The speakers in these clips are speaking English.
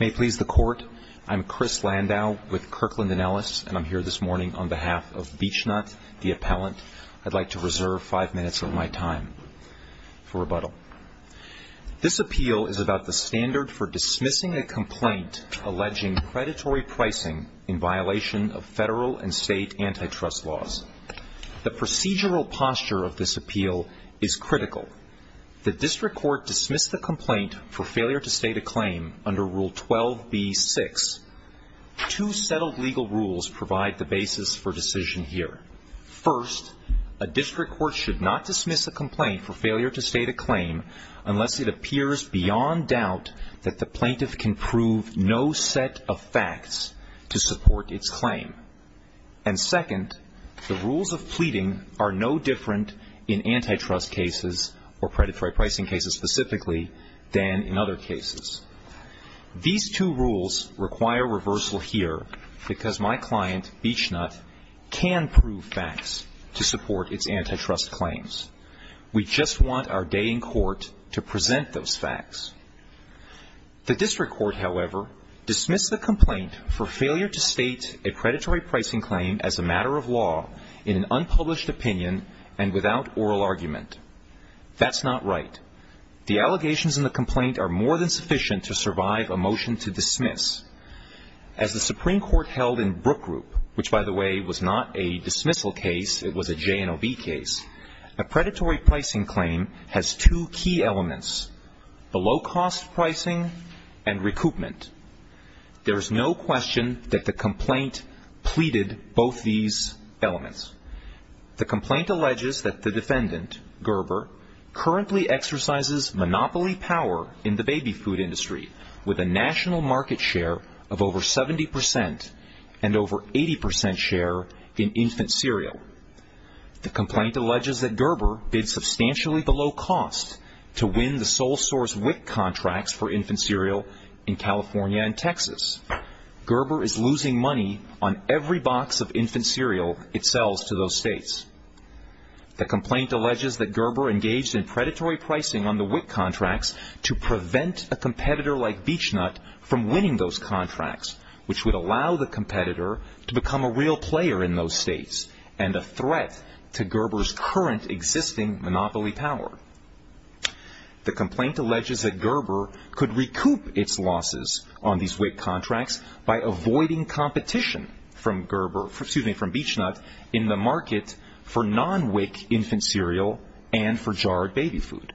May it please the Court, I'm Chris Landau with Kirkland & Ellis, and I'm here this morning on behalf of Beech-Nut, the appellant. I'd like to reserve 5 minutes of my time for rebuttal. This appeal is about the standard for dismissing a complaint alleging predatory pricing in violation of federal and state antitrust laws. The procedural posture of this appeal is critical. The District Court dismissed the complaint for failure to state a claim under Rule 12b-6. Two settled legal rules provide the basis for decision here. First, a District Court should not dismiss a complaint for failure to state a claim unless it appears beyond doubt that the plaintiff can prove no set of facts to support its claim. And second, the rules of pleading are no different in antitrust cases or predatory pricing cases specifically than in other cases. These two rules require reversal here because my client, Beech-Nut, can prove facts to support its antitrust claims. We just want our day in court to present those facts. The District Court, however, dismissed the complaint for failure to state a claim in violation of federal and state antitrust laws in an unpublished opinion and without oral argument. That's not right. The allegations in the complaint are more than sufficient to survive a motion to dismiss. As the Supreme Court held in Brook Group, which, by the way, was not a dismissal case, it was a J&OB case, a predatory pricing claim has two key elements, the low-cost pricing and recoupment. There is no question that the complaint pleaded both these elements. The complaint alleges that the defendant, Gerber, currently exercises monopoly power in the baby food industry with a national market share of over 70 percent and over 80 percent share in infant cereal. The complaint alleges that Gerber bid substantially below cost to win the sole source WIC contracts for infant cereal in California and Texas. Gerber is losing money on every box of infant cereal it sells to those states. The complaint alleges that Gerber engaged in predatory pricing on the WIC contracts to prevent a competitor like Beech-Nut from winning those contracts, which would allow the competitor to become a real player in those states and a threat to Gerber's current existing monopoly power. The complaint alleges that Gerber could recoup its losses on these WIC contracts by avoiding competition from Beech-Nut in the market for non-WIC infant cereal and for jarred baby food.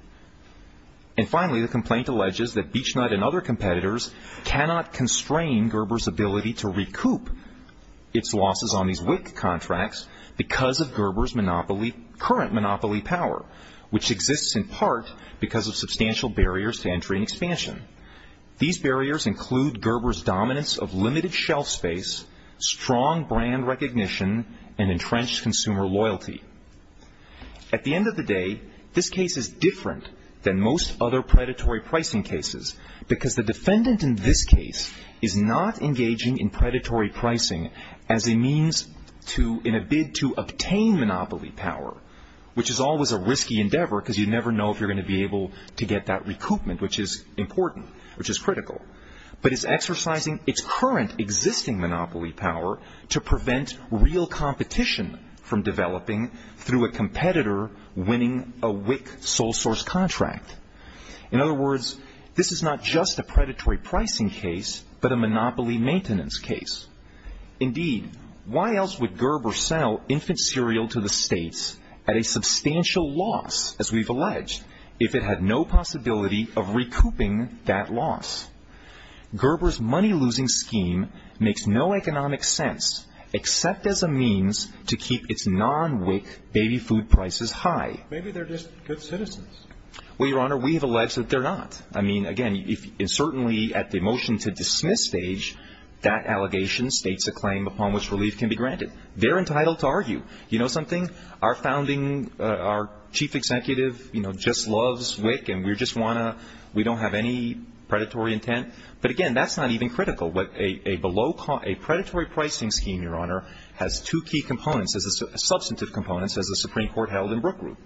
And finally, the complaint alleges that Beech-Nut and other competitors cannot constrain Gerber's ability to recoup its losses on these WIC contracts because of Gerber's current monopoly power, which exists in part because of substantial barriers to entry and expansion. These barriers include Gerber's dominance of limited shelf space, strong brand recognition, and entrenched consumer loyalty. At the end of the day, this case is different than most other predatory pricing cases because the WIC sole source contract is not a predatory pricing case, but a monopoly maintenance case. Indeed, why else would Gerber sell infant cereal to the states at a substantial loss, as we've alleged, if it had no possibility of recouping that loss? Gerber's money-losing scheme makes no economic sense except as a means to keep its non-WIC baby food prices high. Maybe they're just good citizens. Well, Your Honor, we have alleged that they're not. I mean, again, if certainly at the motion to dismiss stage, that allegation states a claim upon which relief can be granted. They're entitled to argue. You know something? Our chief executive just loves WIC, and we don't have any predatory intent. But again, that's not even critical. A predatory pricing scheme, Your Honor, has two key components, substantive components, as the Supreme Court held in Brooke Group.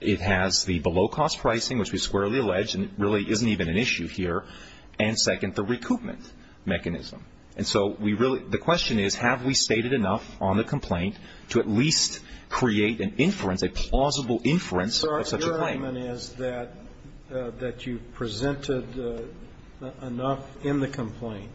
It has the below-cost pricing, which we squarely allege really isn't even an issue here, and second, the recoupment mechanism. And so we really – the question is, have we stated enough on the complaint to at least create an inference, a plausible inference of such a claim? Your argument is that you've presented enough in the complaint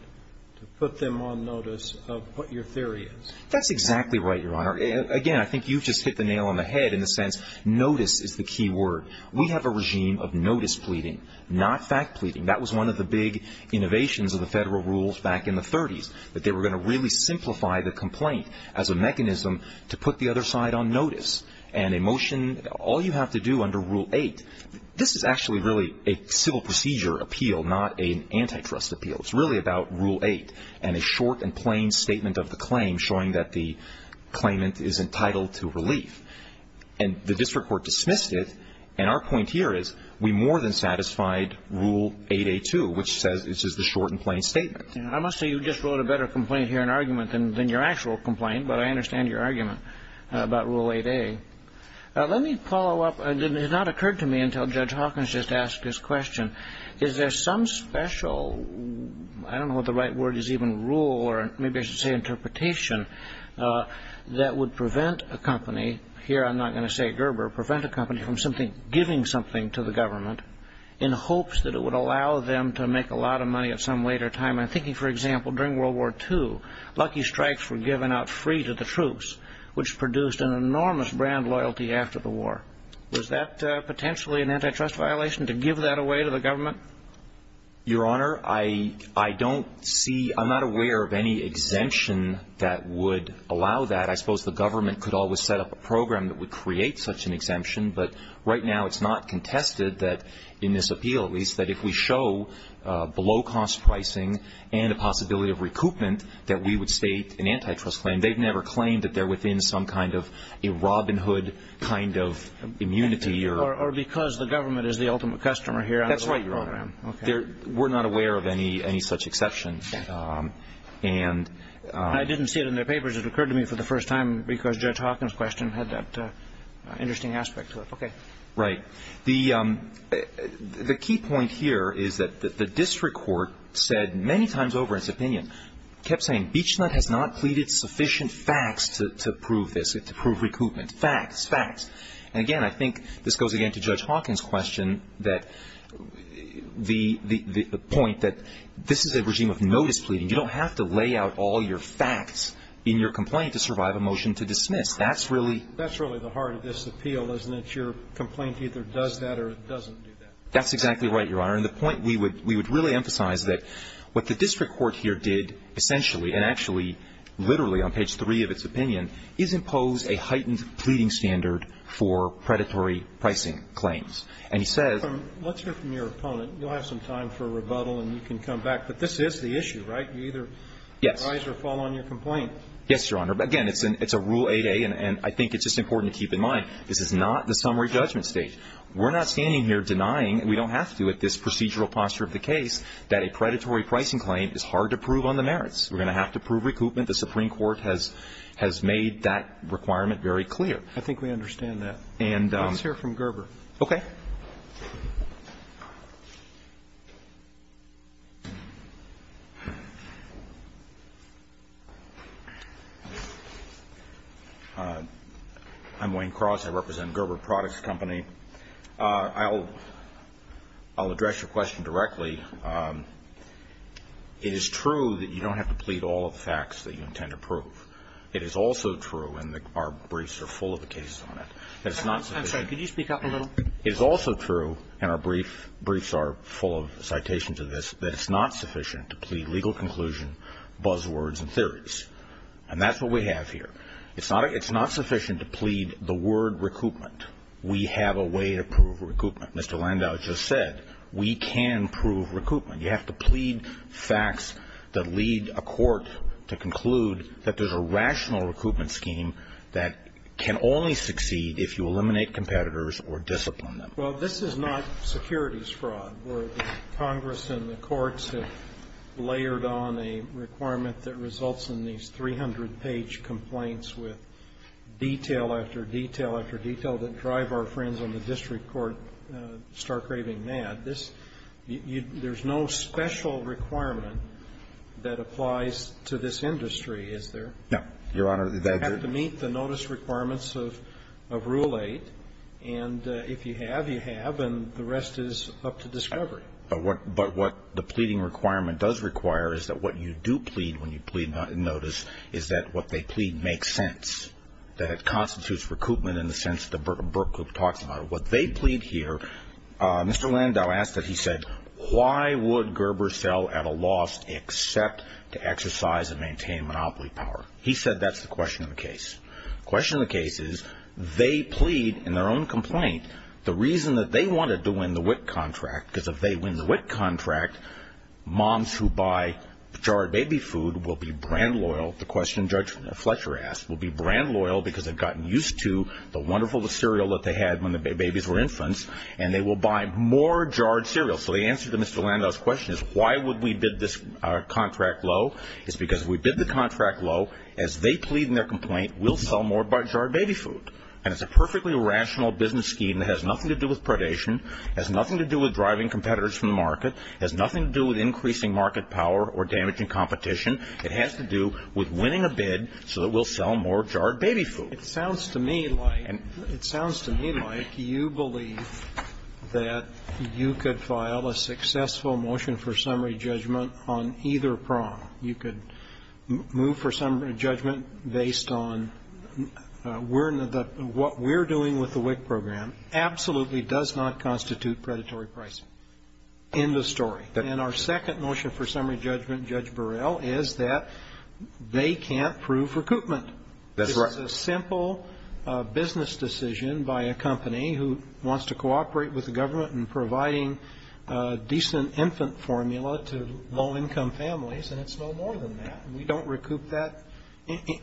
to put them on notice of what your theory is. That's exactly right, Your Honor. Again, I think you've just hit the nail on the head in the sense notice is the key word. We have a regime of notice pleading, not fact pleading. That was one of the big innovations of the federal rules back in the 30s, that they were going to really simplify the complaint as a mechanism to put the other side on notice. And a motion – all you have to do under Rule 8 – this is actually really a civil procedure appeal, not an antitrust appeal. It's really about Rule 8 and a short and plain statement. And the district court dismissed it, and our point here is we more than satisfied Rule 8A2, which says it's just a short and plain statement. I must say you just wrote a better complaint here in argument than your actual complaint, but I understand your argument about Rule 8A. Let me follow up – it has not occurred to me until Judge Hawkins just asked this question – is there some special – I don't know what the right word is even – rule or maybe I should say interpretation that would prevent a company – here I'm not going to say Gerber – prevent a company from simply giving something to the government in hopes that it would allow them to make a lot of money at some later time? I'm thinking for example during World War II, lucky strikes were given out free to the troops, which produced an enormous brand loyalty after the war. Was that potentially an antitrust violation to give that away to the government? Your Honor, I don't see – I'm not aware of any exemption that would allow that. I suppose the government could always set up a program that would create such an exemption, but right now it's not contested that – in this appeal at least – that if we show below cost pricing and a possibility of recoupment, that we would state an antitrust claim. They've never claimed that they're within some kind of a Robin Hood kind of immunity or – Or because the government is the ultimate customer here? That's right, Your Honor. Okay. We're not aware of any such exception, and – I didn't see it in their papers. It occurred to me for the first time because Judge Hawkins' question had that interesting aspect to it. Okay. Right. The key point here is that the district court said many times over its opinion – kept saying, Beechnutt has not pleaded sufficient facts to prove this, to prove recoupment. Facts, facts. And again, I think this goes again to Judge Hawkins' question that – the point that this is a regime of notice pleading. You don't have to lay out all your facts in your complaint to survive a motion to dismiss. That's really – That's really the heart of this appeal, isn't it? Your complaint either does that or it doesn't do that. That's exactly right, Your Honor. And the point we would really emphasize is that what the district court here did essentially and actually literally on page three of its opinion is impose a heightened pleading standard for predatory pricing claims. And he says – Let's hear from your opponent. You'll have some time for rebuttal and you can come back. But this is the issue, right? You either rise or fall on your complaint. Yes, Your Honor. Again, it's a rule 8A, and I think it's just important to keep in mind, this is not the summary judgment stage. We're not standing here denying – we don't have to at this procedural posture of the case – that a predatory pricing claim is hard to prove on the merits. We're going to have to prove recoupment. The Supreme Court has made that requirement very clear. I think we understand that. Let's hear from Gerber. I'm Wayne Cross. I represent Gerber Products Company. I'll address your question directly. It is true that you don't have to plead all of the facts that you intend to prove. It is also true – and our briefs are full of the cases on it – that it's not sufficient – I'm sorry. Could you speak up a little? It is also true – and our briefs are full of citations of this – that it's not sufficient to plead legal conclusion, buzzwords and theories. And that's what we have here. It's not sufficient to plead the word recoupment. We have a way to prove recoupment. Mr. Landau just said, we can prove recoupment. You have to plead facts that lead a court to conclude that there's a rational recoupment scheme that can only succeed if you eliminate competitors or discipline them. Well, this is not securities fraud, where the Congress and the courts have layered on a requirement that results in these 300-page complaints with detail after detail that drive our friends on the district court star-craving mad. There's no special requirement that applies to this industry, is there? No, Your Honor. You have to meet the notice requirements of Rule 8. And if you have, you have. And the rest is up to discovery. But what the pleading requirement does require is that what you do plead when you plead notice is that what they plead makes sense, that it constitutes recoupment in the sense that the Berk group talks about it. What they plead here, Mr. Landau asked it. He said, why would Gerber sell at a loss except to exercise and maintain monopoly power? He said that's the question of the case. The question of the case is, they plead in their own complaint the reason that they wanted to win the WIC contract, because if they win the WIC contract, moms who buy jarred baby food will be brand loyal, the question Judge Fletcher asked, will be brand loyal because they've gotten used to the wonderful cereal that they had when the babies were infants, and they will buy more jarred cereal. So the answer to Mr. Landau's question is, why would we bid this contract low? It's because if we bid the contract low, as they plead in their complaint, we'll sell more jarred baby food. And it's a perfectly rational business scheme that has nothing to do with predation, has nothing to do with driving competitors from the market, has nothing to do with increasing market power or damaging competition. It has to do with winning a bid so that we'll sell more jarred baby food. It sounds to me like, it sounds to me like you believe that you could file a successful motion for summary judgment on either prong. You could move for summary judgment based on what we're doing with the WIC program absolutely does not constitute predatory pricing. End of story. And our second motion for summary judgment, Judge Burrell, is that they can't prove recoupment. That's right. This is a simple business decision by a company who wants to cooperate with the government in providing a decent infant formula to low-income families, and it's no more than that. We don't recoup that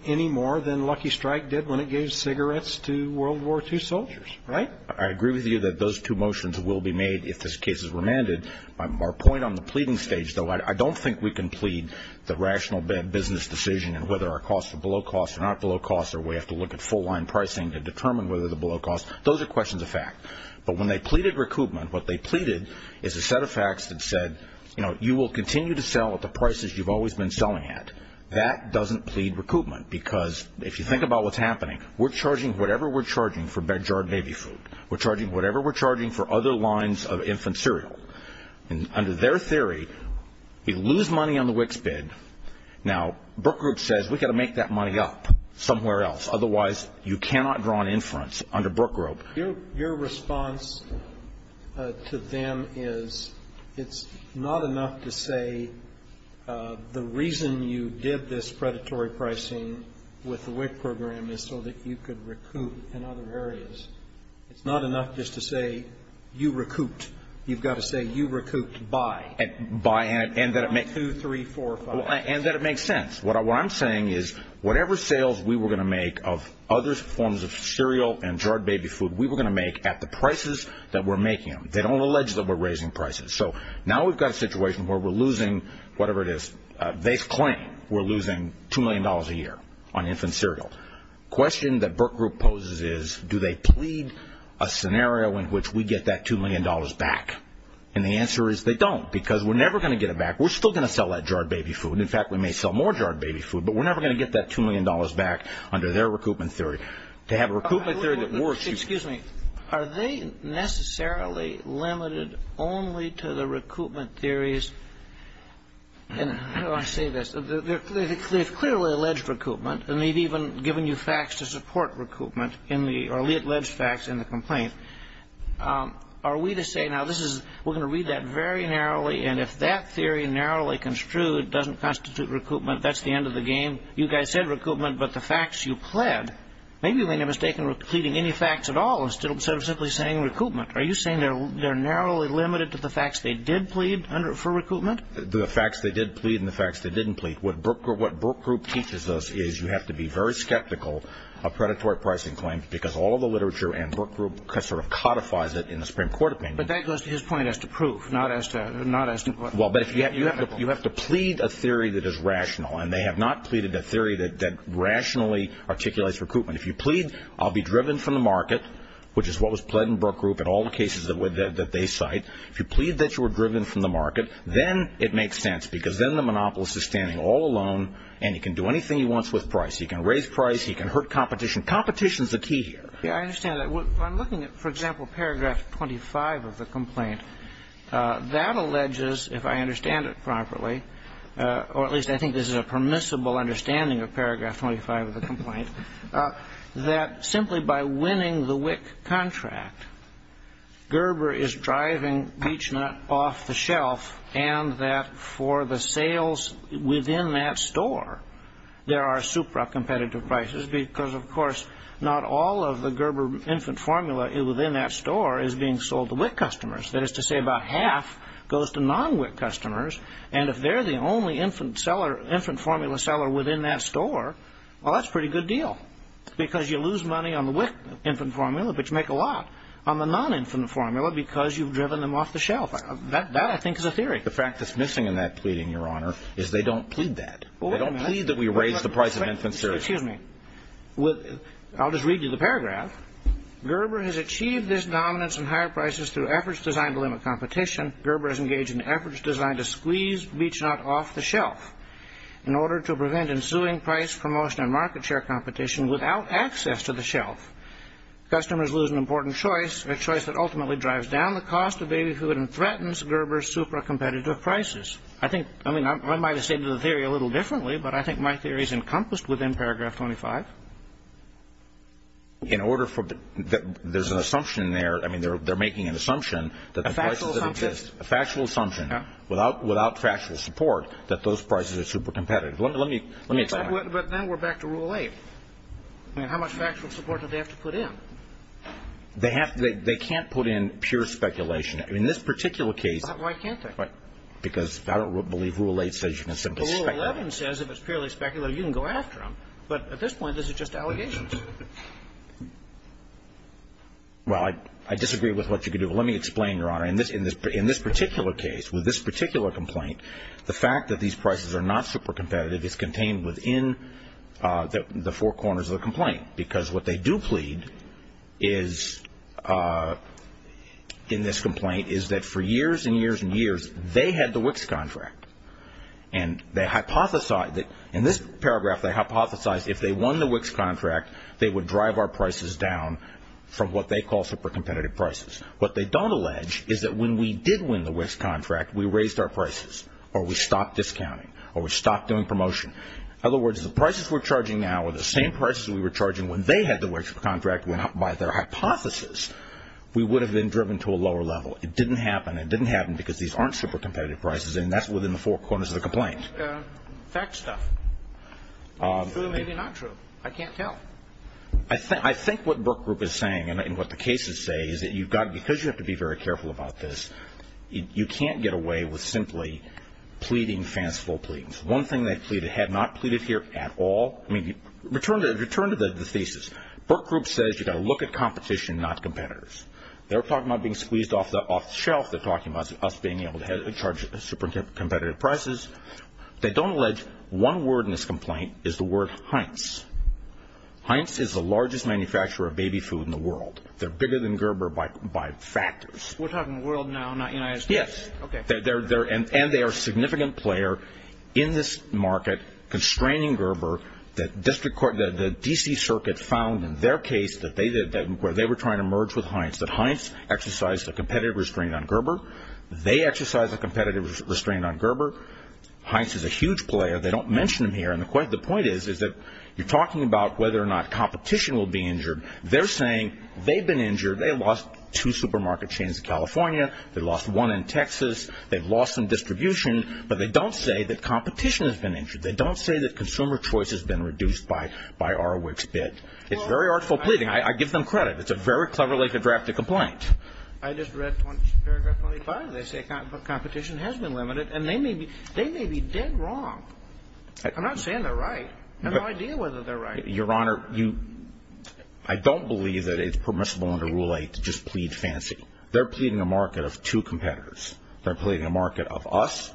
any more than Lucky Strike did when it gave cigarettes to World War II soldiers, right? I agree with you that those two motions will be made if this case is remanded. Our point on the pleading stage, though, I don't think we can plead the rational business decision on whether our costs are below cost or not below cost or we have to look at full-line pricing to determine whether they're below cost. Those are questions of fact. But when they pleaded recoupment, what they pleaded is a set of facts that said, you know, you will continue to sell at the prices you've always been selling at. That doesn't plead recoupment because if you think about what's happening, we're charging whatever we're charging for Bed, Jar, and Baby food. We're charging whatever we're charging for other lines of infant cereal. And under their theory, we lose money on the WICS bid. Now, Brook Group says we've got to make that money up somewhere else. Otherwise, you cannot draw an inference under Brook Group. Your response to them is it's not enough to say the reason you did this predatory pricing with the WIC program is so that you could recoup in other areas. It's not enough just to say you recouped. You've got to say you recouped by. By and that it makes sense. One, two, three, four, five. And that it makes sense. What I'm saying is whatever sales we were going to make of other forms of cereal and jarred baby food, we were going to make at the prices that we're making them. They don't allege that we're raising prices. So now we've got a situation where we're losing whatever it is. They claim we're losing $2 million a year on infant cereal. The question that Brook Group poses is do they plead a scenario in which we get that $2 million back? And the answer is they don't, because we're never going to get it back. We're still going to sell that jarred baby food. In fact, we may sell more jarred baby food, but we're never going to get that $2 million back under their recoupment theory. To have a recoupment theory that works, you've got to... And how do I say this? They've clearly alleged recoupment, and they've even given you facts to support recoupment in the early alleged facts in the complaint. Are we to say now this is, we're going to read that very narrowly, and if that theory narrowly construed doesn't constitute recoupment, that's the end of the game? You guys said recoupment, but the facts you pled, maybe you made a mistake in pleading any facts at all instead of simply saying recoupment. Are you saying they're narrowly limited to the facts they did plead for recoupment? The facts they did plead and the facts they didn't plead. What Brook Group teaches us is you have to be very skeptical of predatory pricing claims, because all of the literature and Brook Group sort of codifies it in the Supreme Court opinion. But that goes to his point as to proof, not as to what... Well, but you have to plead a theory that is rational, and they have not pleaded a theory that rationally articulates recoupment. If you plead, I'll be driven from the market, which is what was pled in Brook Group in all the cases that they cite. If you plead that you were driven from the market, then it makes sense, because then the monopolist is standing all alone, and he can do anything he wants with price. He can raise price, he can hurt competition. Competition's the key here. Yeah, I understand that. I'm looking at, for example, paragraph 25 of the complaint. That alleges, if I understand it properly, or at least I think this is a permissible understanding of paragraph 25 of the complaint, that simply by winning the WIC contract, Gerber is driving Beechnut off the shelf, and that for the sales within that store, there are supra-competitive prices, because, of course, not all of the Gerber infant formula within that store is being sold to WIC customers. That is to say, about half goes to non-WIC customers, and if they're the only infant formula seller within that store, well, that's a pretty good deal, because you lose money on the WIC infant formula, but you make a lot on the non-infant formula, because you've driven them off the shelf. That, I think, is a theory. The fact that's missing in that pleading, Your Honor, is they don't plead that. They don't plead that we raise the price of an infant series. Excuse me. I'll just read you the paragraph. Gerber has achieved this dominance in higher prices through efforts designed to limit competition. Gerber has engaged in efforts designed to squeeze Beechnut off the shelf. In order to prevent ensuing price, promotion, and market share competition without access to the shelf, customers lose an important choice, a choice that ultimately drives down the cost of baby food and threatens Gerber's super-competitive prices. I think, I mean, I might have stated the theory a little differently, but I think my theory is encompassed within paragraph 25. In order for, there's an assumption there, I mean, they're making an assumption that the prices that exist, a factual assumption, without factual support, that those prices are super-competitive. Let me explain. But then we're back to Rule 8. I mean, how much factual support do they have to put in? They have to, they can't put in pure speculation. I mean, in this particular case. Why can't they? Because I don't believe Rule 8 says you can simply speculate. Rule 11 says if it's purely speculative, you can go after them. But at this point, this is just allegations. Well, I disagree with what you could do. But let me explain, Your Honor. In this particular case, with this particular complaint, the fact that these prices are not super-competitive is contained within the four corners of the complaint. Because what they do plead is, in this complaint, is that for years and years and years, they had the WICS contract. And they hypothesized, in this paragraph, they hypothesized if they won the WICS contract, they would drive our prices down from what they call super-competitive prices. What they don't allege is that when we did win the WICS contract, we raised our prices. Or we stopped discounting. Or we stopped doing promotion. In other words, the prices we're charging now are the same prices we were charging when they had the WICS contract. By their hypothesis, we would have been driven to a lower level. It didn't happen. It didn't happen because these aren't super-competitive prices. And that's within the four corners of the complaint. Fact stuff. Maybe true, maybe not true. I can't tell. I think what Brooke Group is saying, and what the cases say, is that because you have to be very careful about this, you can't get away with simply pleading fanciful pleadings. One thing they pleaded, had not pleaded here at all. Return to the thesis. Brooke Group says you've got to look at competition, not competitors. They're talking about being squeezed off the shelf. They're talking about us being able to charge super-competitive prices. They don't allege one word in this complaint is the word Heinz. Heinz is the largest manufacturer of baby food in the world. They're bigger than Gerber by factors. We're talking the world now, not United States? Yes. And they are a significant player in this market, constraining Gerber. The D.C. Circuit found in their case where they were trying to merge with Heinz that Heinz exercised a competitive restraint on Gerber. They exercised a competitive restraint on Gerber. Heinz is a huge player. They don't mention him here. The point is that you're talking about whether or not competition will be injured. They're saying they've been injured. They lost two supermarket chains in California. They lost one in Texas. They've lost some distribution. But they don't say that competition has been injured. They don't say that consumer choice has been reduced by our WIC's bid. It's very artful pleading. I give them credit. It's a very cleverly drafted complaint. I just read paragraph 25. They say competition has been limited. And they may be dead wrong. I'm not saying they're right. I have no idea whether they're right. Your Honor, I don't believe that it's permissible under Rule 8 to just plead fancy. They're pleading a market of two competitors. They're pleading a market of us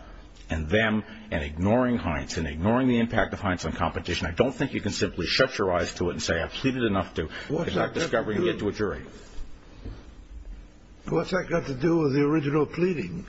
and them and ignoring Heinz and ignoring the impact of Heinz on competition. I don't think you can simply shut your eyes to it and say, What's that got to do with the original pleading?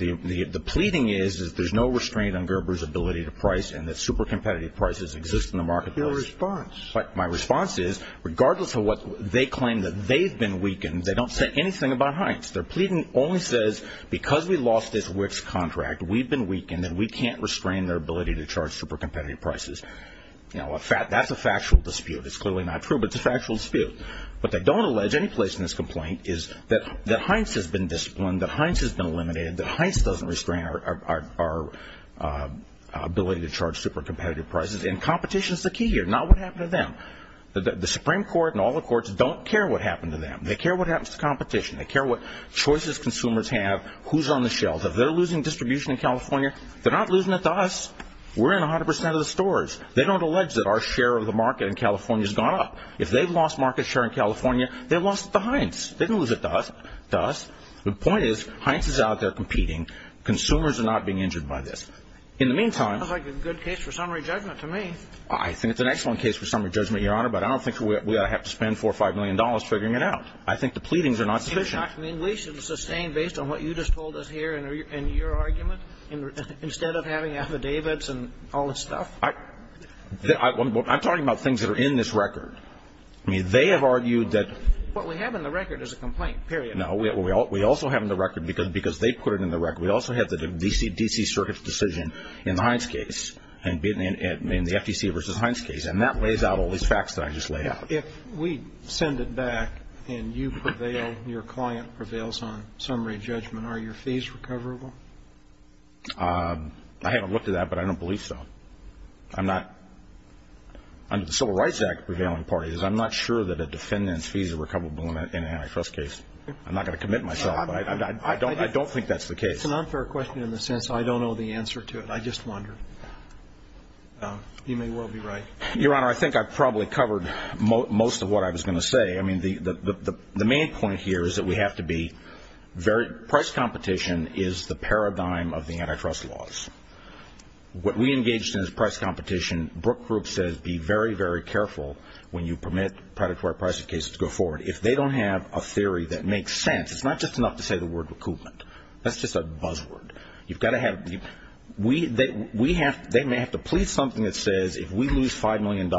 The pleading is that there's no restraint on Gerber's ability to price and that super competitive prices exist in the marketplace. Your response? My response is, regardless of what they claim that they've been weakened, they don't say anything about Heinz. Their pleading only says, because we lost this WIC's contract, we've been weakened, and we can't restrain their ability to charge super competitive prices. That's a factual dispute. It's clearly not true, but it's a factual dispute. What they don't allege any place in this complaint is that Heinz has been disciplined, that Heinz has been eliminated, that Heinz doesn't restrain our ability to charge super competitive prices. And competition is the key here, not what happened to them. The Supreme Court and all the courts don't care what happened to them. They care what happens to competition. They care what choices consumers have, who's on the shelves. If they're losing distribution in California, they're not losing it to us. We're in 100 percent of the stores. They don't allege that our share of the market in California has gone up. If they've lost market share in California, they've lost it to Heinz. They didn't lose it to us. The point is, Heinz is out there competing. Consumers are not being injured by this. It sounds like a good case for summary judgment to me. I think it's an excellent case for summary judgment, Your Honor, but I don't think we ought to have to spend $4 or $5 million figuring it out. I think the pleadings are not sufficient. I mean, we should sustain based on what you just told us here in your argument, instead of having affidavits and all this stuff? I'm talking about things that are in this record. I mean, they have argued that ---- What we have in the record is a complaint, period. No, we also have in the record, because they put it in the record, we also have the D.C. Circuit's decision in the Heinz case, in the FTC v. Heinz case, and that lays out all these facts that I just laid out. If we send it back and you prevail, your client prevails on summary judgment, are your fees recoverable? I haven't looked at that, but I don't believe so. I'm not ---- under the Civil Rights Act prevailing parties, I'm not sure that a defendant's fees are recoverable in an antitrust case. I'm not going to commit myself, but I don't think that's the case. It's an unfair question in the sense I don't know the answer to it. I just wonder. You may well be right. Your Honor, I think I probably covered most of what I was going to say. I mean, the main point here is that we have to be very ---- price competition is the paradigm of the antitrust laws. What we engaged in is price competition. Brooke Group says be very, very careful when you permit predatory pricing cases to go forward. If they don't have a theory that makes sense, it's not just enough to say the word recoupment. That's just a buzzword. They may have to plead something that says if we lose $5 million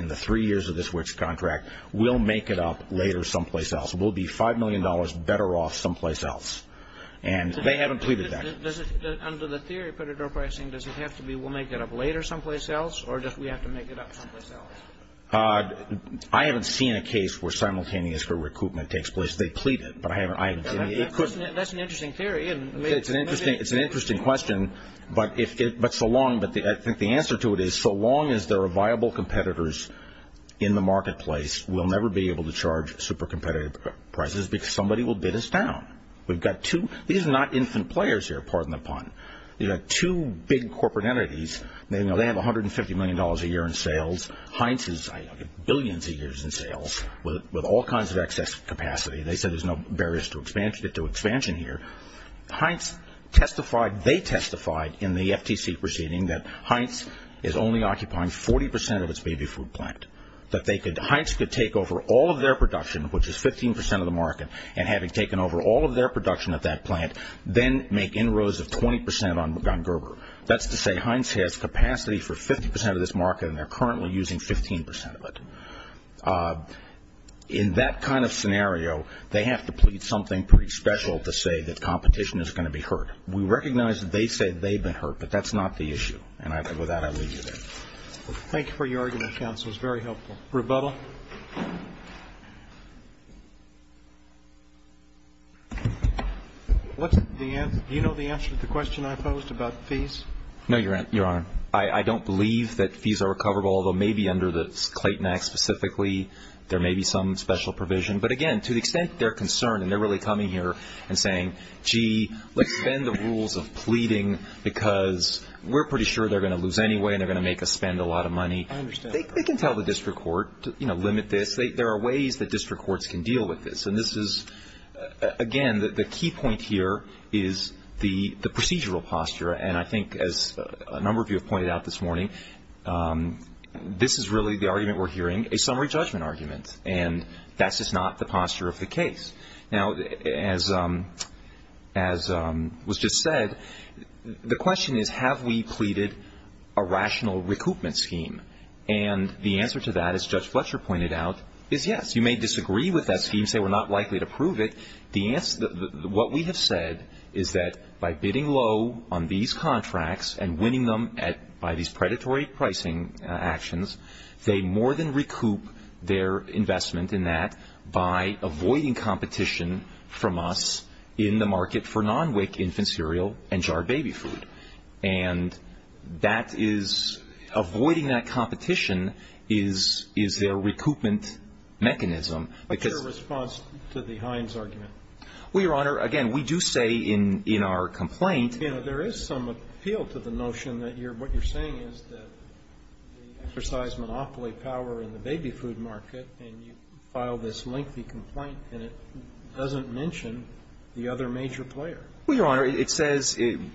in the three years of this contract, we'll make it up later someplace else. We'll be $5 million better off someplace else. And they haven't pleaded that. Under the theory of predatory pricing, does it have to be we'll make it up later someplace else or just we have to make it up someplace else? I haven't seen a case where simultaneous recoupment takes place. They plead it, but I haven't seen it. That's an interesting theory. It's an interesting question. But I think the answer to it is so long as there are viable competitors in the marketplace, we'll never be able to charge super competitive prices because somebody will bid us down. These are not infant players here, pardon the pun. You've got two big corporate entities. They have $150 million a year in sales. Heinz has billions of years in sales with all kinds of excess capacity. They said there's no barriers to expansion here. They testified in the FTC proceeding that Heinz is only occupying 40% of its baby food plant, that Heinz could take over all of their production, which is 15% of the market, and having taken over all of their production at that plant, then make inroads of 20% on Gerber. That's to say Heinz has capacity for 50% of this market, and they're currently using 15% of it. In that kind of scenario, they have to plead something pretty special to say that competition is going to be hurt. We recognize that they say they've been hurt, but that's not the issue. And with that, I leave you there. Thank you for your argument, counsel. It was very helpful. Rebuttal. Do you know the answer to the question I posed about fees? No, Your Honor. I don't believe that fees are recoverable, although maybe under the Clayton Act specifically there may be some special provision. But, again, to the extent they're concerned and they're really coming here and saying, gee, let's bend the rules of pleading because we're pretty sure they're going to lose anyway and they're going to make us spend a lot of money. I understand. They can tell the district court, you know, limit this. There are ways that district courts can deal with this. And this is, again, the key point here is the procedural posture. And I think, as a number of you have pointed out this morning, this is really the argument we're hearing, a summary judgment argument, and that's just not the posture of the case. Now, as was just said, the question is, have we pleaded a rational recoupment scheme? And the answer to that, as Judge Fletcher pointed out, is yes. You may disagree with that scheme, say we're not likely to prove it. What we have said is that by bidding low on these contracts and winning them by these predatory pricing actions, they more than recoup their investment in that by avoiding competition from us in the market for non-WIC infant cereal and jarred baby food. And avoiding that competition is their recoupment mechanism. What's your response to the Hines argument? Well, Your Honor, again, we do say in our complaint. You know, there is some appeal to the notion that what you're saying is that they exercise monopoly power in the baby food market, and you file this lengthy complaint, and it doesn't mention the other major player. Well, Your Honor, it says in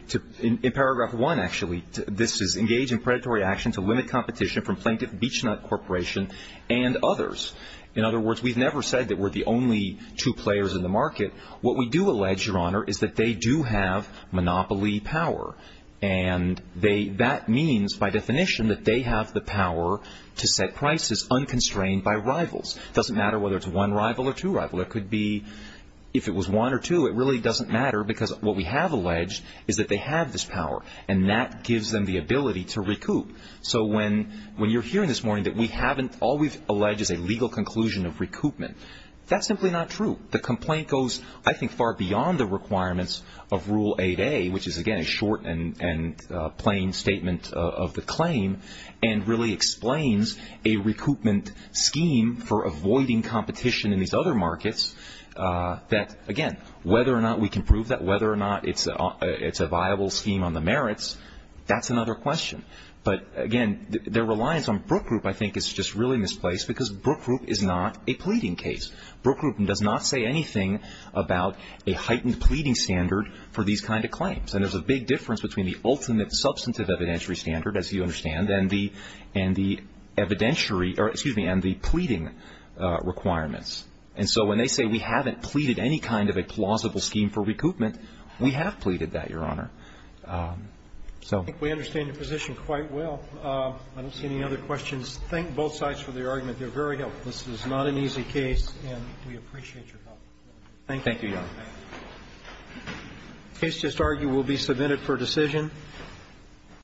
paragraph 1, actually, this is engage in predatory action to limit competition from plaintiff, Beech-Nut Corporation, and others. In other words, we've never said that we're the only two players in the market. What we do allege, Your Honor, is that they do have monopoly power, and that means by definition that they have the power to set prices unconstrained by rivals. It doesn't matter whether it's one rival or two rival. It could be if it was one or two. It really doesn't matter because what we have alleged is that they have this power, and that gives them the ability to recoup. So when you're hearing this morning that all we've alleged is a legal conclusion of recoupment, that's simply not true. The complaint goes, I think, far beyond the requirements of Rule 8A, which is, again, a short and plain statement of the claim, and really explains a recoupment scheme for avoiding competition in these other markets that, again, whether or not we can prove that, whether or not it's a viable scheme on the merits, that's another question. But, again, their reliance on Brook Group, I think, is just really misplaced because Brook Group is not a pleading case. Brook Group does not say anything about a heightened pleading standard for these kind of claims, and there's a big difference between the ultimate substantive evidentiary standard, as you understand, and the pleading requirements. And so when they say we haven't pleaded any kind of a plausible scheme for recoupment, we have pleaded that, Your Honor. So we understand your position quite well. I don't see any other questions. Thank both sides for their argument. They're very helpful. This is not an easy case, and we appreciate your help. Thank you. Thank you, Your Honor. The case just argued will be submitted for decision.